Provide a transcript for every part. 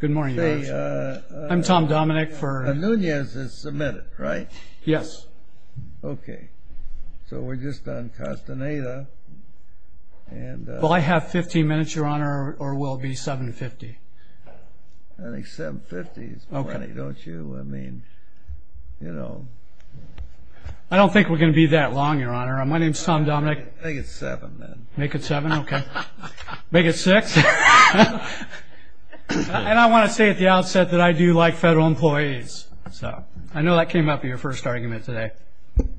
Good morning your honor. I'm Tom Dominick for... Alunez has submitted, right? Yes. Okay. So we're just on Castaneda and... Well I have 15 minutes your honor or will it be 7.50? I think 7.50 is plenty, don't you? I mean, you know... I don't think we're going to be that long your honor. My name's Tom Dominick. Make it 7 then. Make it 7? Okay. Make it 6? And I want to say at the outset that I do like federal employees. So I know that came up in your first argument today.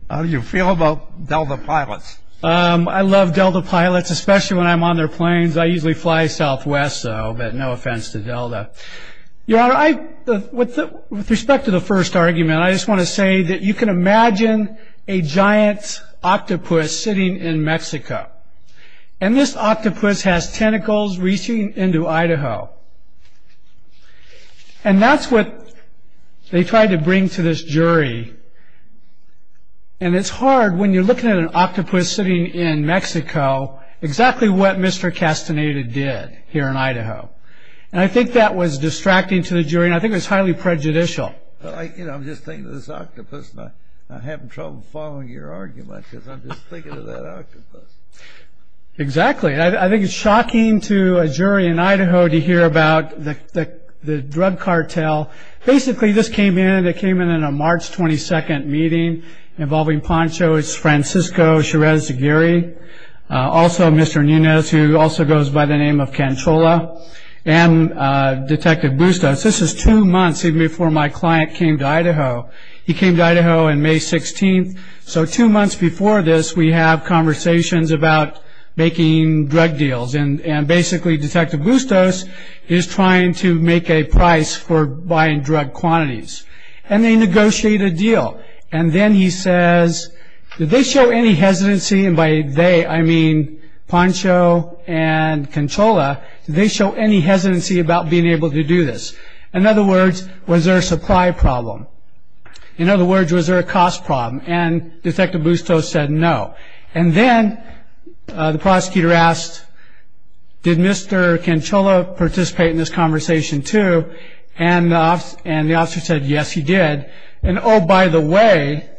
How do you feel about Delta pilots? I love Delta pilots, especially when I'm on their planes. I usually fly Southwest, so no offense to Delta. Your honor, with respect to the first argument, I just want to say that you can imagine a giant octopus sitting in Mexico. And this octopus has tentacles reaching into Idaho. And that's what they tried to bring to this jury. And it's hard when you're looking at an octopus sitting in Mexico, exactly what Mr. Castaneda did here in Idaho. And I think that was distracting to the jury and I think it was highly prejudicial. I'm just thinking of this octopus and I'm having trouble following your argument because I'm just thinking of that octopus. Exactly. I think it's shocking to a jury in Idaho to hear about the drug cartel. Basically, this came in. It came in in a March 22nd meeting involving Poncho, Francisco Chirez Aguirre, also Mr. Nunez, who also goes by the name of Canchola, and Detective Bustos. This is two months even before my client came to Idaho. He came to Idaho on May 16th. So two months before this, we have conversations about making drug deals. And basically, Detective Bustos is trying to make a price for buying drug quantities. And they negotiate a deal. And then he says, did they show any hesitancy? And by they, I mean Poncho and Canchola. Did they show any hesitancy about being able to do this? In other words, was there a supply problem? In other words, was there a cost problem? And Detective Bustos said no. And then the prosecutor asked, did Mr. Canchola participate in this conversation too? And the officer said, yes, he did. And oh, by the way,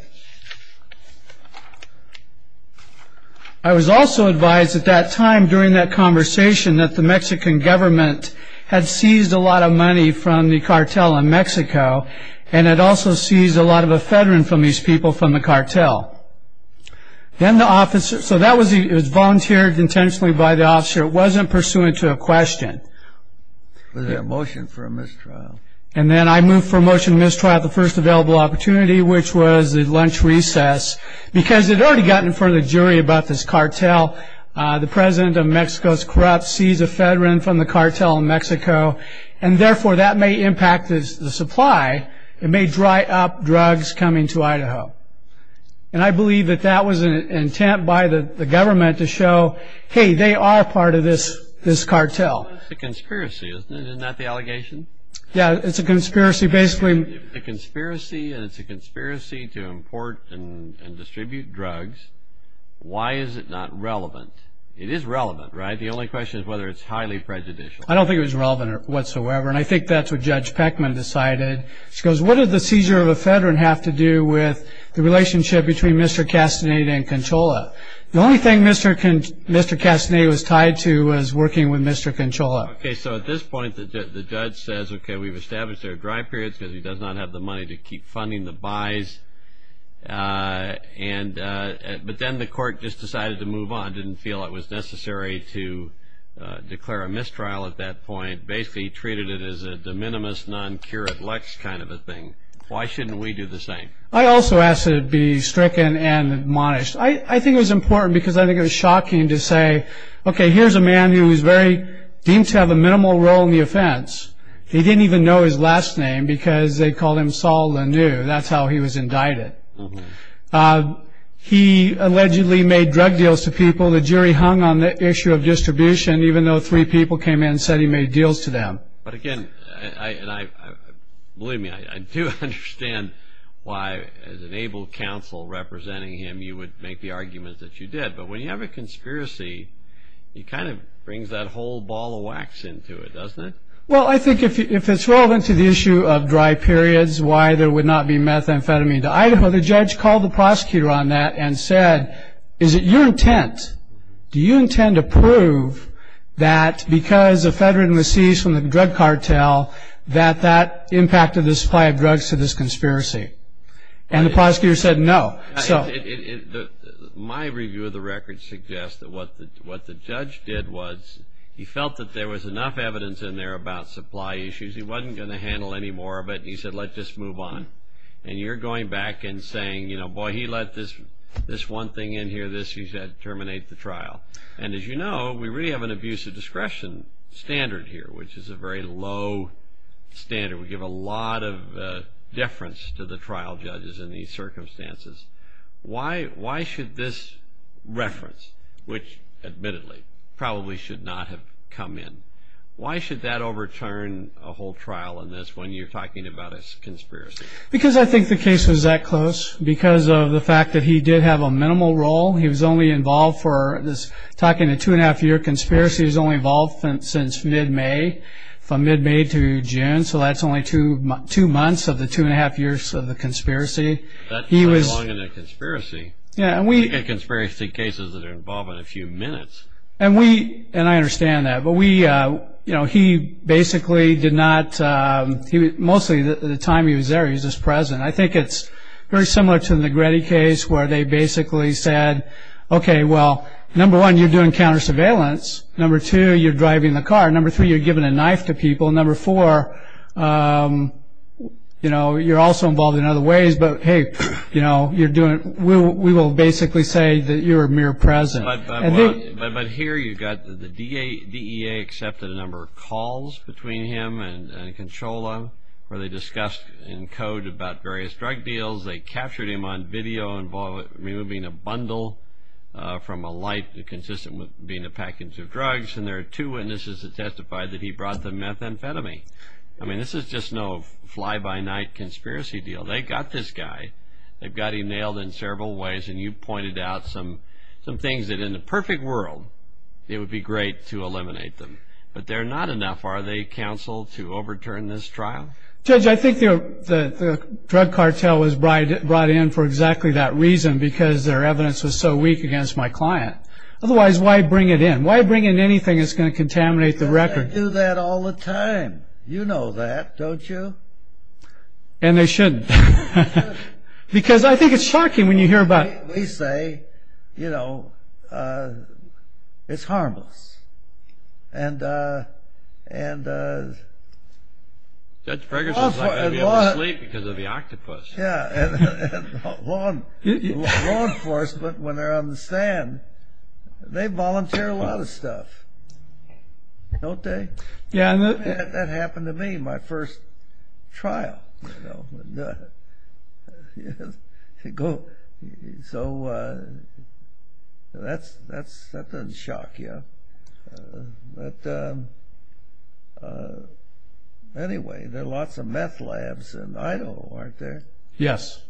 I was also advised at that time during that conversation that the Mexican government had seized a lot of money from the cartel in Mexico. And it also seized a lot of ephedrine from these people from the cartel. So that was volunteered intentionally by the officer. It wasn't pursuant to a question. Was there a motion for a mistrial? And then I moved for a motion to mistrial at the first available opportunity, which was the lunch recess, because it already got in front of the jury about this cartel. The president of Mexico is corrupt, seized ephedrine from the cartel in Mexico. And therefore, that may impact the supply. It may dry up drugs coming to Idaho. And I believe that that was an intent by the government to show, hey, they are part of this cartel. It's a conspiracy, isn't it? Isn't that the allegation? Yeah, it's a conspiracy. It's a conspiracy to import and distribute drugs. Why is it not relevant? It is relevant, right? The only question is whether it's highly prejudicial. I don't think it was relevant whatsoever. And I think that's what Judge Peckman decided. She goes, what does the seizure of ephedrine have to do with the relationship between Mr. Castaneda and Conchola? The only thing Mr. Castaneda was tied to was working with Mr. Conchola. Okay, so at this point, the judge says, okay, we've established there are dry periods because he does not have the money to keep funding the buys. But then the court just decided to move on, didn't feel it was necessary to declare a mistrial at that point, basically treated it as a de minimis non cura lux kind of a thing. Why shouldn't we do the same? I also ask that it be stricken and admonished. I think it was important because I think it was shocking to say, okay, here's a man who is very deemed to have a minimal role in the offense. He didn't even know his last name because they called him Saul Lanoue. That's how he was indicted. He allegedly made drug deals to people. The jury hung on the issue of distribution, even though three people came in and said he made deals to them. But, again, believe me, I do understand why, as an able counsel representing him, you would make the arguments that you did. But when you have a conspiracy, it kind of brings that whole ball of wax into it, doesn't it? Well, I think if it's relevant to the issue of dry periods, why there would not be methamphetamine. In Idaho, the judge called the prosecutor on that and said, is it your intent, do you intend to prove that because ephedrine was seized from the drug cartel that that impacted the supply of drugs to this conspiracy? And the prosecutor said no. My review of the record suggests that what the judge did was he felt that there was enough evidence in there about supply issues. He wasn't going to handle any more of it. He said, let's just move on. And you're going back and saying, boy, he let this one thing in here, this. He said, terminate the trial. And as you know, we really have an abuse of discretion standard here, which is a very low standard. It would give a lot of deference to the trial judges in these circumstances. Why should this reference, which admittedly probably should not have come in, why should that overturn a whole trial in this when you're talking about a conspiracy? Because I think the case was that close because of the fact that he did have a minimal role. He was only involved for this, talking a two-and-a-half-year conspiracy, he was only involved since mid-May, from mid-May to June, so that's only two months of the two-and-a-half years of the conspiracy. That's not long in a conspiracy. We get conspiracy cases that are involved in a few minutes. And we, and I understand that, but we, you know, he basically did not, mostly the time he was there, he was just present. I think it's very similar to the Negretti case where they basically said, okay, well, number one, you're doing counter-surveillance. Number two, you're driving the car. Number three, you're giving a knife to people. Number four, you know, you're also involved in other ways. But, hey, you know, you're doing, we will basically say that you're mere present. But here you've got the DEA accepted a number of calls between him and Consola where they discussed in code about various drug deals. They captured him on video involving removing a bundle from a light consistent with being a package of drugs. And there are two witnesses that testified that he brought the methamphetamine. I mean, this is just no fly-by-night conspiracy deal. They got this guy. They've got him nailed in several ways, and you pointed out some things that in the perfect world it would be great to eliminate them. But they're not enough, are they, Counsel, to overturn this trial? Judge, I think the drug cartel was brought in for exactly that reason because their evidence was so weak against my client. Otherwise, why bring it in? Why bring in anything that's going to contaminate the record? They do that all the time. You know that, don't you? And they shouldn't. Because I think it's shocking when you hear about it. We say, you know, it's harmless. And law enforcement, when they're on the stand, they volunteer a lot of stuff, don't they? That happened to me my first trial. So that doesn't shock you. But anyway, there are lots of meth labs in Idaho, aren't there? Yes.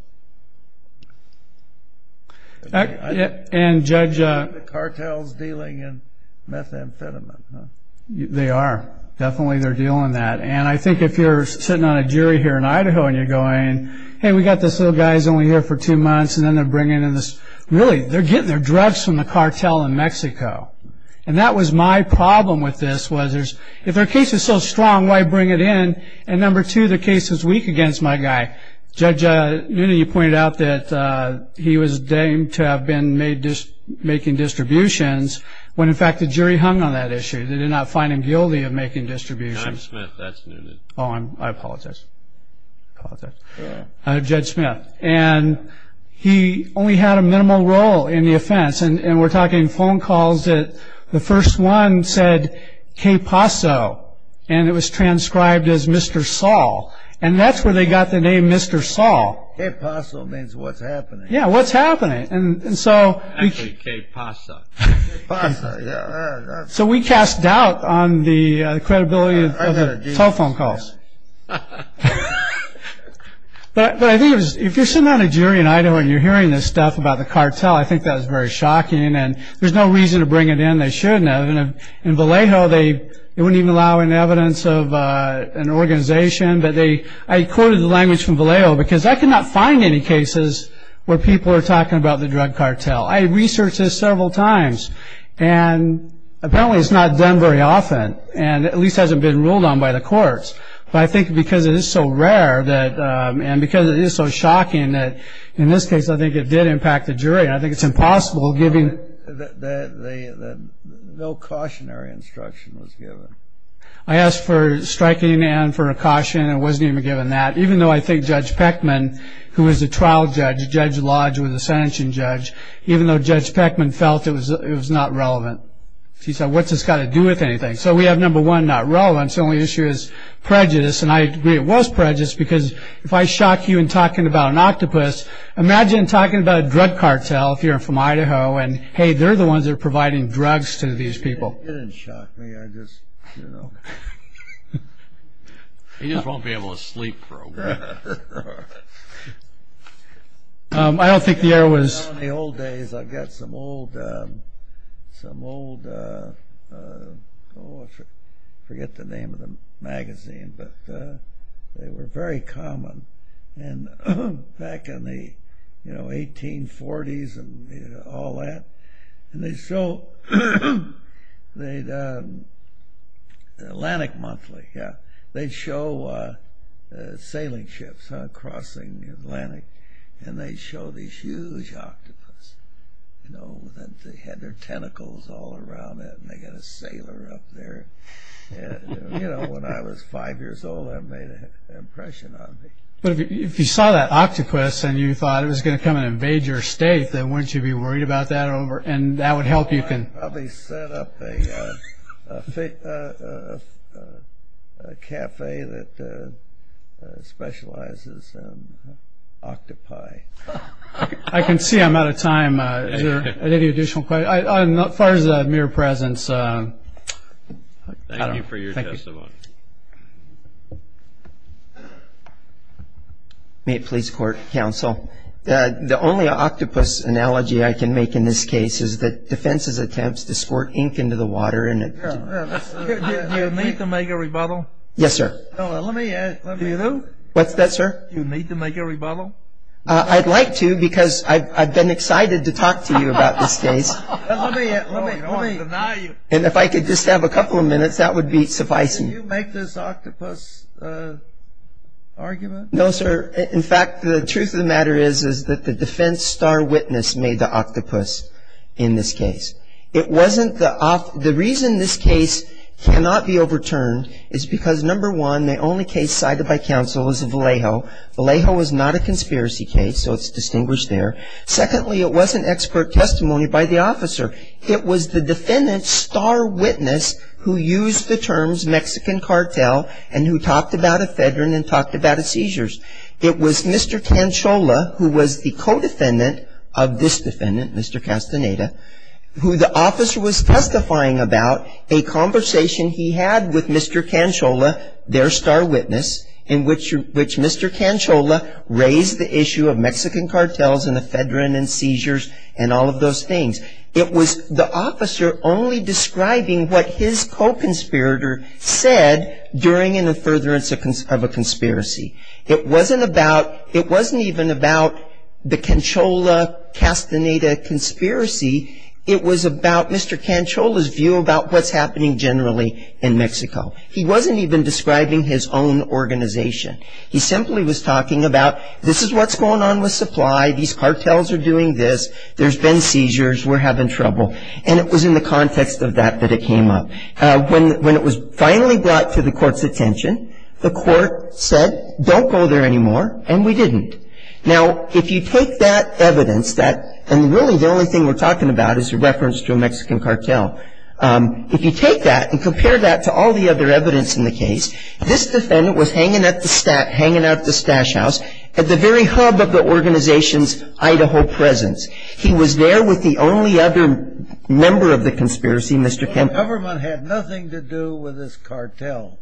And the cartel's dealing in methamphetamine, huh? They are. Definitely they're dealing that. And I think if you're sitting on a jury here in Idaho and you're going, hey, we've got this little guy who's only here for two months, and then they're bringing in this ñ really, they're getting their drugs from the cartel in Mexico. And that was my problem with this, was if their case is so strong, why bring it in? And number two, their case is weak against my guy. Judge, you pointed out that he was deemed to have been making distributions when, in fact, the jury hung on that issue. They did not find him guilty of making distributions. John Smith, that's new to me. Oh, I apologize. Judge Smith. And he only had a minimal role in the offense. And we're talking phone calls that the first one said, Que Paso, and it was transcribed as Mr. Saul. And that's where they got the name Mr. Saul. Que Paso means what's happening. Yeah, what's happening. Actually, Que Pasa. Pasa, yeah. So we cast doubt on the credibility of the telephone calls. But I think if you're sitting on a jury in Idaho and you're hearing this stuff about the cartel, I think that's very shocking, and there's no reason to bring it in. They shouldn't have. In Vallejo, they wouldn't even allow any evidence of an organization, but I quoted the language from Vallejo because I could not find any cases where people are talking about the drug cartel. I researched this several times, and apparently it's not done very often and at least hasn't been ruled on by the courts. But I think because it is so rare and because it is so shocking that, in this case, I think it did impact the jury, and I think it's impossible giving. No cautionary instruction was given. I asked for striking and for a caution, and it wasn't even given that, even though I think Judge Peckman, who is the trial judge, Judge Lodge, who was the sentencing judge, even though Judge Peckman felt it was not relevant. He said, what's this got to do with anything? So we have, number one, not relevant. The only issue is prejudice, and I agree it was prejudice because if I shock you in talking about an octopus, imagine talking about a drug cartel if you're from Idaho and, hey, they're the ones that are providing drugs to these people. It didn't shock me. He just won't be able to sleep for a week. In the old days, I've got some old, I forget the name of the magazine, but they were very common back in the 1840s and all that. They'd show Atlantic Monthly. They'd show sailing ships crossing the Atlantic, and they'd show these huge octopuses. They had their tentacles all around it, and they got a sailor up there. When I was five years old, that made an impression on me. But if you saw that octopus and you thought it was going to come and invade your state, wouldn't you be worried about that? That would help you. I'd probably set up a cafe that specializes in octopi. I can see I'm out of time. Any additional questions? As far as mere presence, I don't know. Thank you for your testimony. May it please the Court, Counsel. The only octopus analogy I can make in this case is that defense's attempt to squirt ink into the water. Do you need to make a rebuttal? Yes, sir. Do you? What's that, sir? Do you need to make a rebuttal? I'd like to because I've been excited to talk to you about this case. I don't want to deny you. And if I could just have a couple of minutes, that would be sufficient. Did you make this octopus argument? No, sir. In fact, the truth of the matter is that the defense star witness made the octopus in this case. The reason this case cannot be overturned is because, number one, the only case cited by counsel is Vallejo. Vallejo was not a conspiracy case, so it's distinguished there. Secondly, it wasn't expert testimony by the officer. It was the defendant's star witness who used the terms Mexican cartel and who talked about ephedrine and talked about seizures. It was Mr. Canchola, who was the co-defendant of this defendant, Mr. Castaneda, who the officer was testifying about a conversation he had with Mr. Canchola, their star witness, in which Mr. Canchola raised the issue of Mexican cartels and ephedrine and seizures and all of those things. It was the officer only describing what his co-conspirator said during and in furtherance of a conspiracy. It wasn't even about the Canchola-Castaneda conspiracy. It was about Mr. Canchola's view about what's happening generally in Mexico. He wasn't even describing his own organization. He simply was talking about this is what's going on with supply. These cartels are doing this. There's been seizures. We're having trouble. And it was in the context of that that it came up. When it was finally brought to the court's attention, the court said, don't go there anymore, and we didn't. Now, if you take that evidence, and really the only thing we're talking about is a reference to a Mexican cartel, if you take that and compare that to all the other evidence in the case, this defendant was hanging at the stash house at the very hub of the organization's He was there with the only other member of the conspiracy, Mr. Canchola. The government had nothing to do with this cartel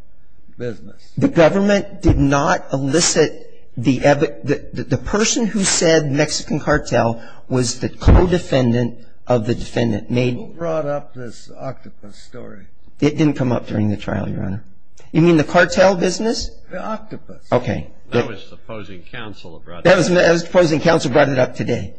business. The government did not elicit the person who said Mexican cartel was the co-defendant of the defendant. Who brought up this octopus story? It didn't come up during the trial, Your Honor. You mean the cartel business? Okay. That was the opposing counsel that brought it up. That was the opposing counsel brought it up today.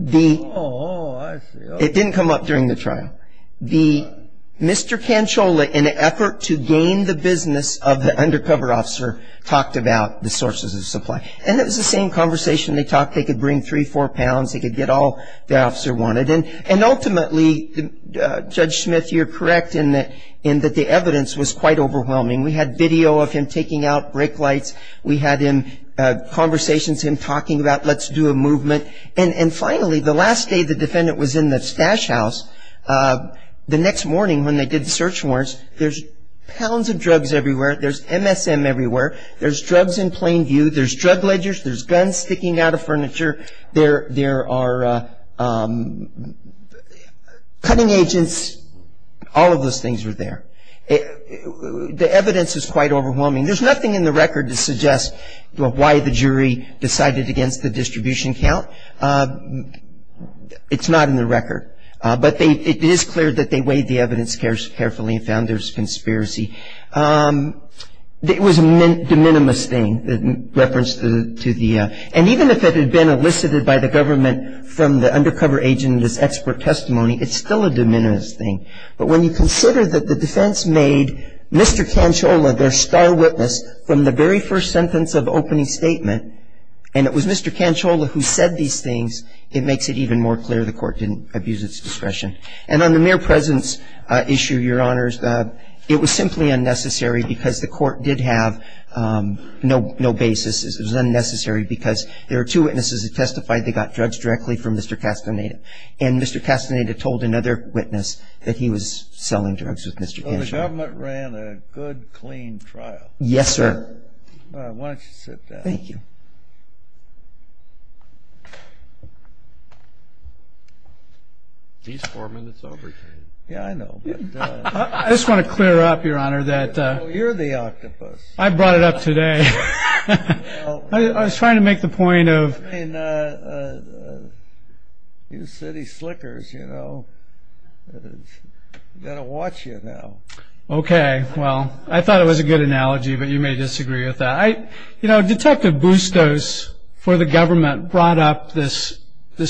Oh, I see. It didn't come up during the trial. Mr. Canchola, in an effort to gain the business of the undercover officer, talked about the sources of supply. And it was the same conversation they talked. They could bring three, four pounds. They could get all the officer wanted. And ultimately, Judge Smith, you're correct in that the evidence was quite overwhelming. We had video of him taking out brake lights. We had conversations of him talking about let's do a movement. And finally, the last day the defendant was in the stash house, the next morning when they did the search warrants, there's pounds of drugs everywhere. There's MSM everywhere. There's drugs in plain view. There's drug ledgers. There's guns sticking out of furniture. There are cutting agents. All of those things were there. The evidence is quite overwhelming. There's nothing in the record to suggest why the jury decided against the distribution count. It's not in the record. But it is clear that they weighed the evidence carefully and found there's conspiracy. It was a de minimis thing that referenced to the ‑‑ and even if it had been elicited by the government from the undercover agent as expert testimony, it's still a de minimis thing. But when you consider that the defense made Mr. Canciola their star witness from the very first sentence of opening statement and it was Mr. Canciola who said these things, it makes it even more clear the court didn't abuse its discretion. And on the mere presence issue, Your Honors, it was simply unnecessary because the court did have no basis. It was unnecessary because there were two witnesses that testified they got drugs directly from Mr. Castaneda. And Mr. Castaneda told another witness that he was selling drugs with Mr. Canciola. So the government ran a good, clean trial. Yes, sir. Why don't you sit down. Thank you. He's four minutes over, too. Yeah, I know. I just want to clear up, Your Honor, that ‑‑ You're the octopus. I brought it up today. I was trying to make the point of ‑‑ I mean, you city slickers, you know, got to watch you now. Okay. Well, I thought it was a good analogy, but you may disagree with that. You know, Detective Bustos for the government brought up this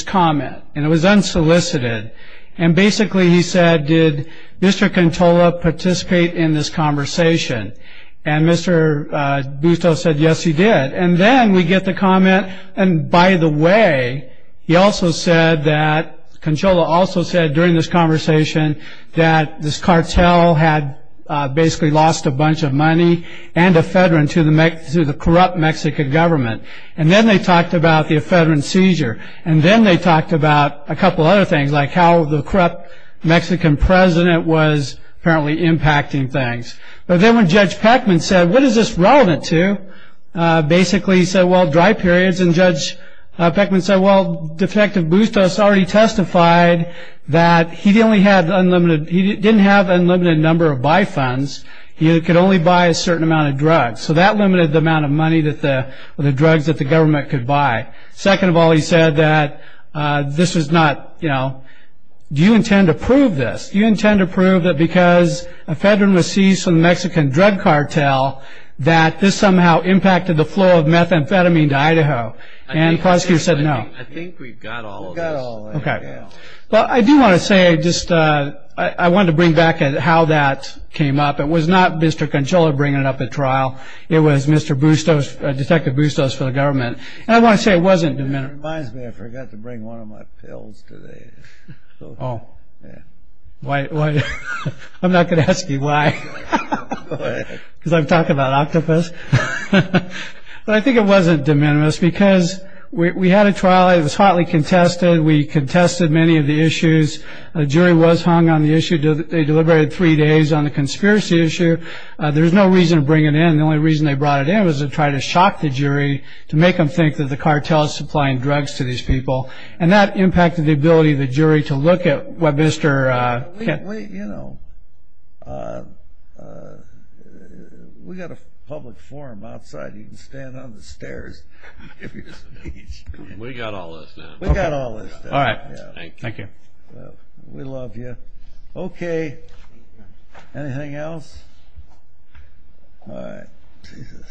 comment, and it was unsolicited. And basically he said, did Mr. Canciola participate in this conversation? And Mr. Bustos said, yes, he did. And then we get the comment, and by the way, he also said that ‑‑ Canciola also said during this conversation that this cartel had basically lost a bunch of money and ephedrine to the corrupt Mexican government. And then they talked about the ephedrine seizure. And then they talked about a couple other things, like how the corrupt Mexican president was apparently impacting things. But then when Judge Peckman said, what is this relevant to? Basically he said, well, dry periods. And Judge Peckman said, well, Detective Bustos already testified that he didn't have unlimited number of buy funds. He could only buy a certain amount of drugs. So that limited the amount of money or the drugs that the government could buy. Second of all, he said that this was not, you know, do you intend to prove this? Do you intend to prove that because ephedrine was seized from the Mexican drug cartel that this somehow impacted the flow of methamphetamine to Idaho? And Proskier said no. I think we've got all of this. Okay. Well, I do want to say just I wanted to bring back how that came up. It was not Mr. Canciola bringing it up at trial. It was Mr. Bustos, Detective Bustos for the government. And I want to say it wasn't ‑‑ It reminds me I forgot to bring one of my pills today. Oh. I'm not going to ask you why. Because I'm talking about octopus. But I think it wasn't de minimis because we had a trial. It was hotly contested. We contested many of the issues. A jury was hung on the issue. They deliberated three days on the conspiracy issue. There's no reason to bring it in. The only reason they brought it in was to try to shock the jury, to make them think that the cartel is supplying drugs to these people. And that impacted the ability of the jury to look at what Mr. ‑‑ You know, we've got a public forum outside. You can stand on the stairs. We've got all this. We've got all this. All right. Thank you. We love you. Okay. Anything else? All right. Jesus.